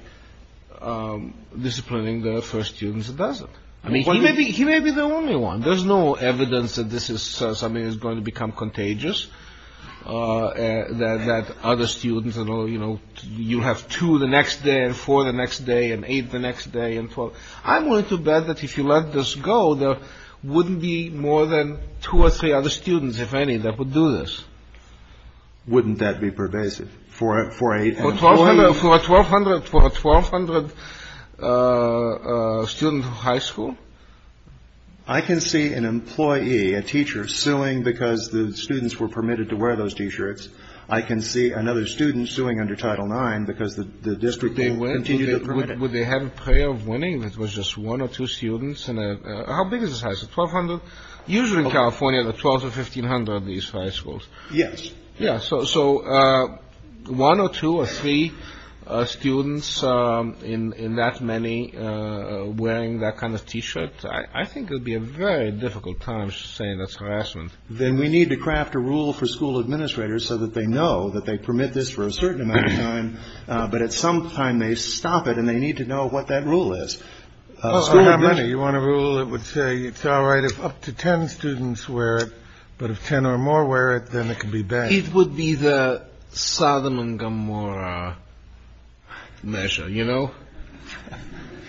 disciplining the first students? It doesn't mean maybe he may be the only one. There's no evidence that this is something that's going to become contagious, that other students, you know, you have to the next day and for the next day and eight the next day. Well, I'm going to bet that if you let this go, there wouldn't be more than two or three other students, if any, that would do this. Wouldn't that be pervasive for a for a for a 1,200 for a 1,200 student high school? I can see an employee, a teacher suing because the students were permitted to wear those T-shirts. I can see another student suing under Title IX because the district. Would they have a prayer of winning? That was just one or two students. How big is this? 1,200. Usually in California, the 12 to 1,500 of these high schools. Yes. Yeah. So. So one or two or three students in that many wearing that kind of T-shirt. I think it would be a very difficult time saying that's harassment. Then we need to craft a rule for school administrators so that they know that they permit this for a certain amount of time. But at some time they stop it and they need to know what that rule is. You want a rule that would say it's all right if up to 10 students wear it. But if 10 or more wear it, then it could be bad. It would be the Sodom and Gomorrah measure. You know,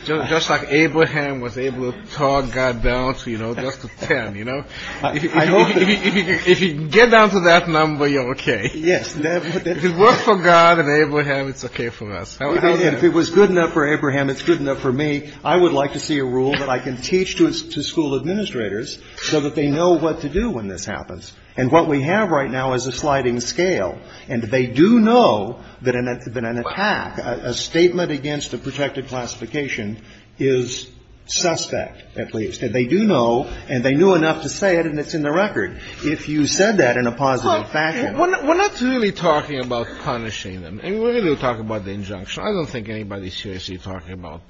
just like Abraham was able to talk God down to, you know, just 10. You know, if you get down to that number, you're OK. Yes. If it were for God and Abraham, it's OK for us. If it was good enough for Abraham, it's good enough for me. I would like to see a rule that I can teach to school administrators so that they know what to do when this happens. And what we have right now is a sliding scale. And they do know that an attack, a statement against a protected classification is suspect, at least. And they do know and they knew enough to say it. And it's in the record. If you said that in a positive fashion. We're not really talking about punishing them. We're going to talk about the injunction. I don't think anybody's seriously talking about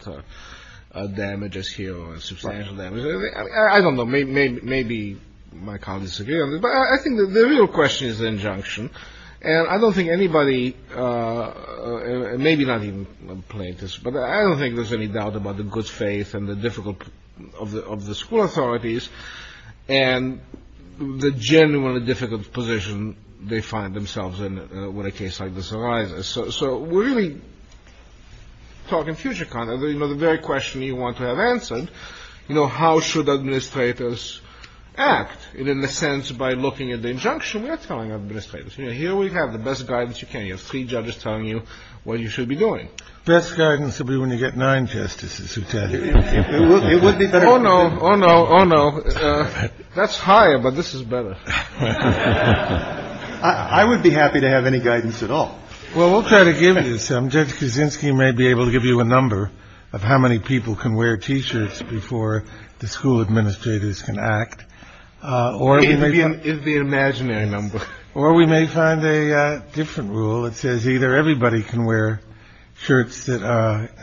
damages here or substantial damages. I don't know. Maybe my colleagues agree on this. But I think the real question is the injunction. And I don't think anybody, maybe not even plaintiffs, but I don't think there's any doubt about the good faith and the difficulty of the school authorities. And the genuine and difficult position they find themselves in when a case like this arises. So we're really talking future content. You know, the very question you want to have answered, you know, how should administrators act? And in a sense, by looking at the injunction, we're telling administrators, you know, here we have the best guidance you can. You have three judges telling you what you should be doing. Best guidance will be when you get nine justices who tell you. Oh, no. Oh, no. Oh, no. That's higher. But this is better. I would be happy to have any guidance at all. Well, we'll try to give you some. Judge Kaczynski may be able to give you a number of how many people can wear T-shirts before the school administrators can act. Or it may be an imaginary number. Or we may find a different rule. It says either everybody can wear shirts that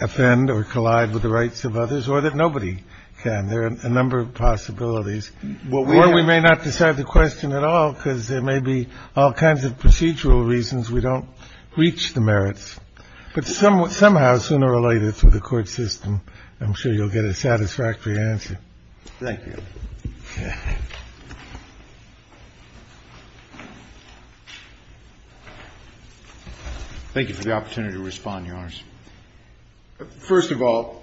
offend or collide with the rights of others or that nobody can. There are a number of possibilities. Well, we may not decide the question at all because there may be all kinds of procedural reasons. We don't reach the merits. But some somehow sooner or later through the court system, I'm sure you'll get a satisfactory answer. Thank you. Thank you for the opportunity to respond, Your Honors. First of all,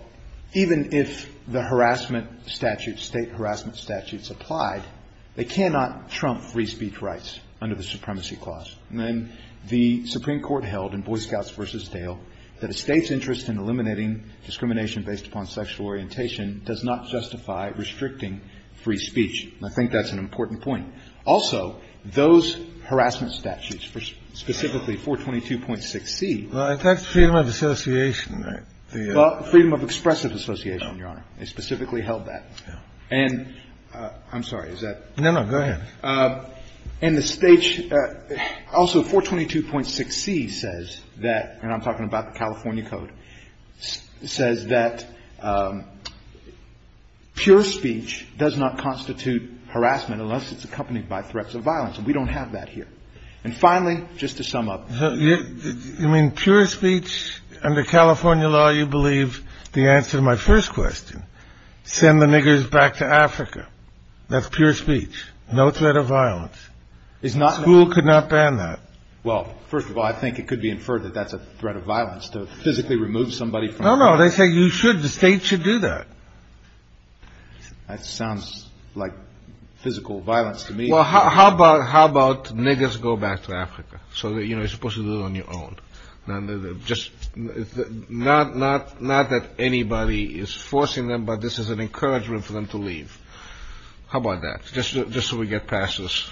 even if the harassment statute, state harassment statutes, applied, they cannot trump free speech rights under the Supremacy Clause. The Supreme Court held in Boy Scouts v. Dale that a state's interest in eliminating discrimination based upon sexual orientation does not justify restricting free speech. I think that's an important point. Also, those harassment statutes, specifically 422.6c. Well, it affects freedom of association. Freedom of expressive association, Your Honor. It specifically held that. And I'm sorry, is that? No, no. Go ahead. And the state also 422.6c says that, and I'm talking about the California Code, says that pure speech does not constitute harassment unless it's accompanied by threats of violence. And we don't have that here. And finally, just to sum up. You mean pure speech? Under California law, you believe the answer to my first question. Send the niggers back to Africa. That's pure speech. No threat of violence. The school could not ban that. Well, first of all, I think it could be inferred that that's a threat of violence to physically remove somebody. No, no. They say you should. The state should do that. That sounds like physical violence to me. Well, how about niggers go back to Africa? So, you know, you're supposed to do it on your own. Not that anybody is forcing them, but this is an encouragement for them to leave. How about that? Just so we get past this.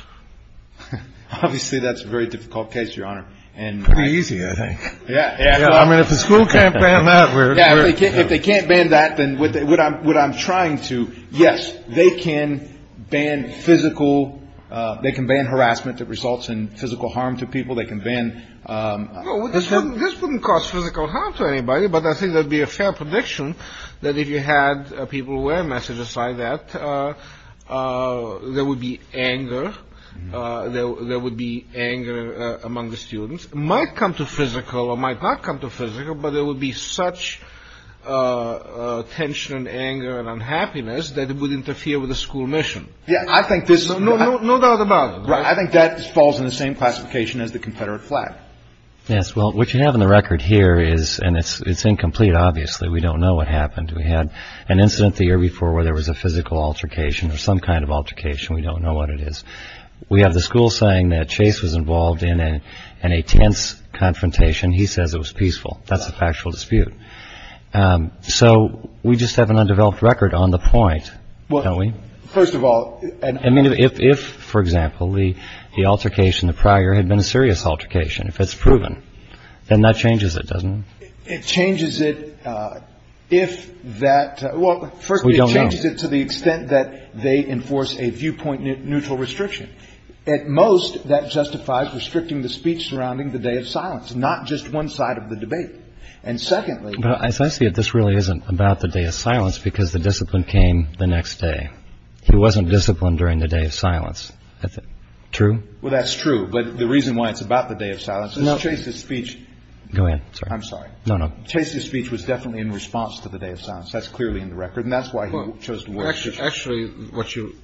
Obviously, that's a very difficult case, Your Honor. Pretty easy, I think. Yeah. I mean, if the school can't ban that, we're. If they can't ban that, then what I'm trying to. Yes, they can ban physical. They can ban harassment that results in physical harm to people. They can ban. This wouldn't cause physical harm to anybody. But I think there would be a fair prediction that if you had people wear messages like that, there would be anger. There would be anger among the students. It might come to physical or might not come to physical, but there would be such tension and anger and unhappiness that it would interfere with the school mission. Yeah, I think this. No doubt about it. I think that falls in the same classification as the Confederate flag. Yes. Well, what you have in the record here is and it's it's incomplete. Obviously, we don't know what happened. We had an incident the year before where there was a physical altercation or some kind of altercation. We don't know what it is. We have the school saying that Chase was involved in an intense confrontation. He says it was peaceful. That's a factual dispute. So we just have an undeveloped record on the point. First of all, if, for example, the altercation prior had been a serious altercation, if it's proven, then that changes it, doesn't it? It changes it if that. Well, first, we don't change it to the extent that they enforce a viewpoint neutral restriction. At most, that justifies restricting the speech surrounding the day of silence, not just one side of the debate. And secondly, as I see it, this really isn't about the day of silence because the discipline came the next day. He wasn't disciplined during the day of silence. True. Well, that's true. But the reason why it's about the day of silence is Chase's speech. Go ahead. I'm sorry. No, no. Chase's speech was definitely in response to the day of silence. That's clearly in the record. And that's why he chose to. Actually, what you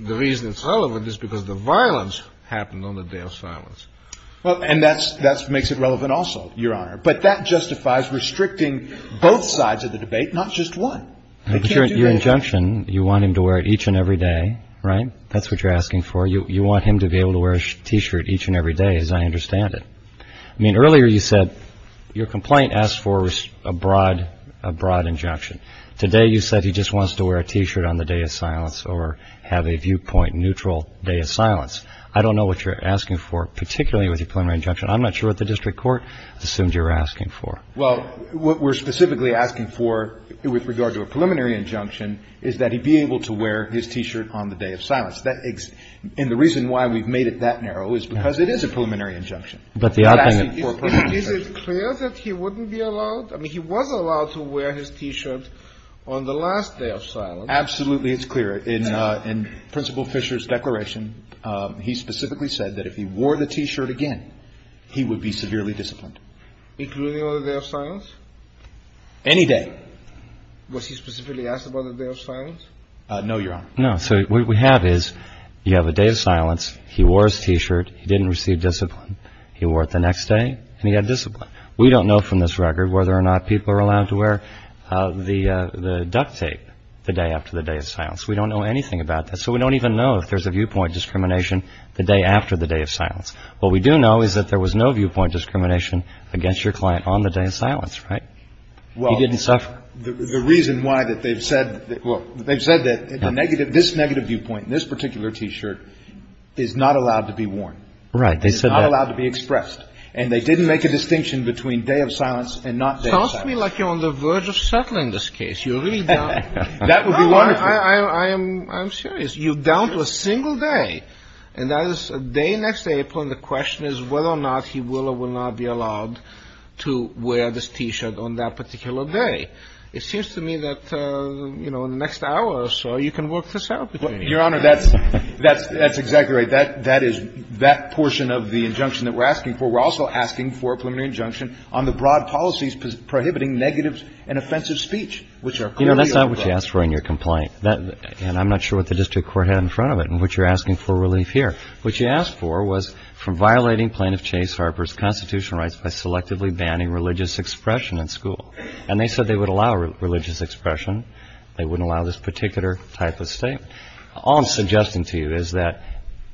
the reason it's relevant is because the violence happened on the day of silence. Well, and that makes it relevant also, Your Honor. But that justifies restricting both sides of the debate, not just one. But your injunction, you want him to wear it each and every day, right? That's what you're asking for. You want him to be able to wear a T-shirt each and every day, as I understand it. I mean, earlier you said your complaint asked for a broad injunction. Today you said he just wants to wear a T-shirt on the day of silence or have a viewpoint neutral day of silence. I don't know what you're asking for, particularly with your preliminary injunction. I'm not sure what the district court assumed you were asking for. Well, what we're specifically asking for with regard to a preliminary injunction is that he be able to wear his T-shirt on the day of silence. And the reason why we've made it that narrow is because it is a preliminary injunction. But the odd thing is, is it clear that he wouldn't be allowed? I mean, he was allowed to wear his T-shirt on the last day of silence. Absolutely, it's clear. In Principal Fisher's declaration, he specifically said that if he wore the T-shirt again, he would be severely disciplined. Including on the day of silence? Any day. Was he specifically asked about the day of silence? No, Your Honor. No. So what we have is you have a day of silence. He wore his T-shirt. He didn't receive discipline. He wore it the next day and he had discipline. We don't know from this record whether or not people are allowed to wear the duct tape the day after the day of silence. We don't know anything about that. So we don't even know if there's a viewpoint discrimination the day after the day of silence. What we do know is that there was no viewpoint discrimination against your client on the day of silence, right? He didn't suffer. Well, the reason why that they've said, well, they've said that this negative viewpoint, this particular T-shirt, is not allowed to be worn. Right. It's not allowed to be expressed. And they didn't make a distinction between day of silence and not day of silence. Sounds to me like you're on the verge of settling this case. You're really down. That would be wonderful. I'm serious. You're down to a single day. And that is a day next April and the question is whether or not he will or will not be allowed to wear this T-shirt on that particular day. It seems to me that, you know, in the next hour or so you can work this out. Your Honor, that's exactly right. That is that portion of the injunction that we're asking for. We're also asking for a preliminary injunction on the broad policies prohibiting negative and offensive speech, which are clearly unlawful. Yes. We're in your complaint. And I'm not sure what the district court had in front of it and what you're asking for relief here. What you asked for was for violating plaintiff Chase Harper's constitutional rights by selectively banning religious expression in school. And they said they would allow religious expression. They wouldn't allow this particular type of state. All I'm suggesting to you is that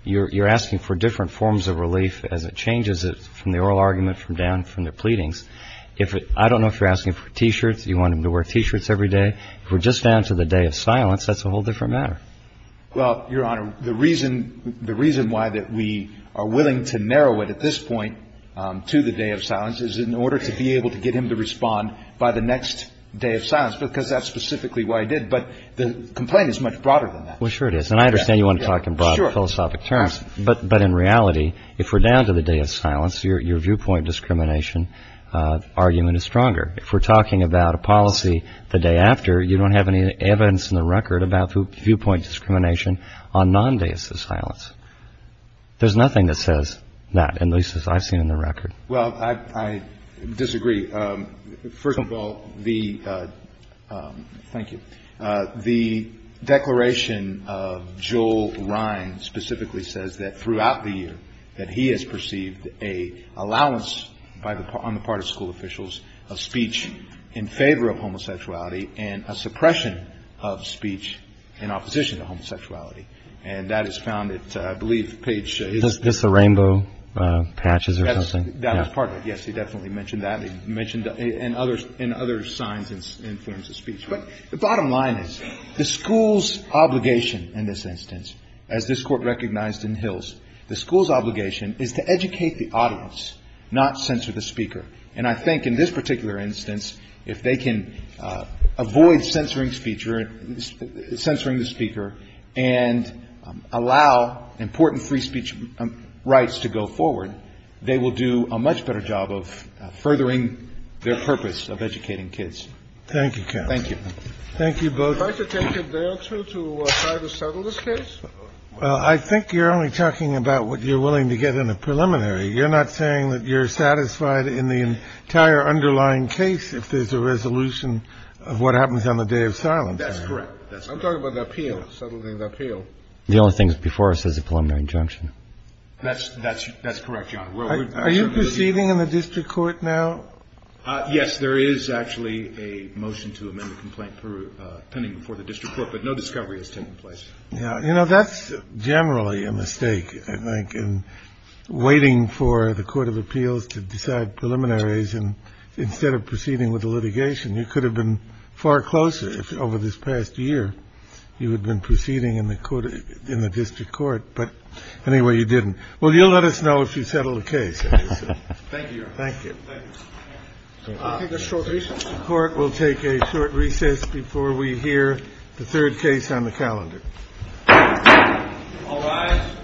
you're asking for different forms of relief as it changes from the oral argument from down from the pleadings. If I don't know if you're asking for T-shirts, you want him to wear T-shirts every day. If we're just down to the day of silence, that's a whole different matter. Well, Your Honor, the reason why that we are willing to narrow it at this point to the day of silence is in order to be able to get him to respond by the next day of silence, because that's specifically why he did. But the complaint is much broader than that. Well, sure it is. And I understand you want to talk in broad philosophic terms. But in reality, if we're down to the day of silence, your viewpoint discrimination argument is stronger. If we're talking about a policy the day after, you don't have any evidence in the record about viewpoint discrimination on non-days of silence. There's nothing that says that, at least as I've seen in the record. Well, I disagree. First of all, the ‑‑ thank you. The declaration of Joel Ryan specifically says that throughout the year that he has perceived an allowance on the part of school officials, a speech in favor of homosexuality and a suppression of speech in opposition to homosexuality. And that is found at, I believe, page ‑‑ Is this the rainbow patches or something? That is part of it. Yes, he definitely mentioned that. He mentioned it in other signs and forms of speech. But the bottom line is the school's obligation in this instance, as this Court recognized in Hills, the school's obligation is to educate the audience, not censor the speaker. And I think in this particular instance, if they can avoid censoring speech or censoring the speaker and allow important free speech rights to go forward, they will do a much better job of furthering their purpose of educating kids. Thank you, counsel. Thank you. Thank you both. Would you like to take a day or two to try to settle this case? Well, I think you're only talking about what you're willing to get in a preliminary. You're not saying that you're satisfied in the entire underlying case if there's a resolution of what happens on the day of silence. That's correct. I'm talking about the appeal, settling the appeal. The only thing before us is a preliminary injunction. That's correct, Your Honor. Are you proceeding in the district court now? Yes, there is actually a motion to amend the complaint pending before the district court, but no discovery has taken place. You know, that's generally a mistake, I think, in waiting for the Court of Appeals to decide preliminaries instead of proceeding with the litigation. You could have been far closer over this past year. You would have been proceeding in the district court. But anyway, you didn't. Well, you'll let us know if you settle the case. Thank you, Your Honor. Thank you. Court will take a short recess before we hear the third case on the calendar. All rise.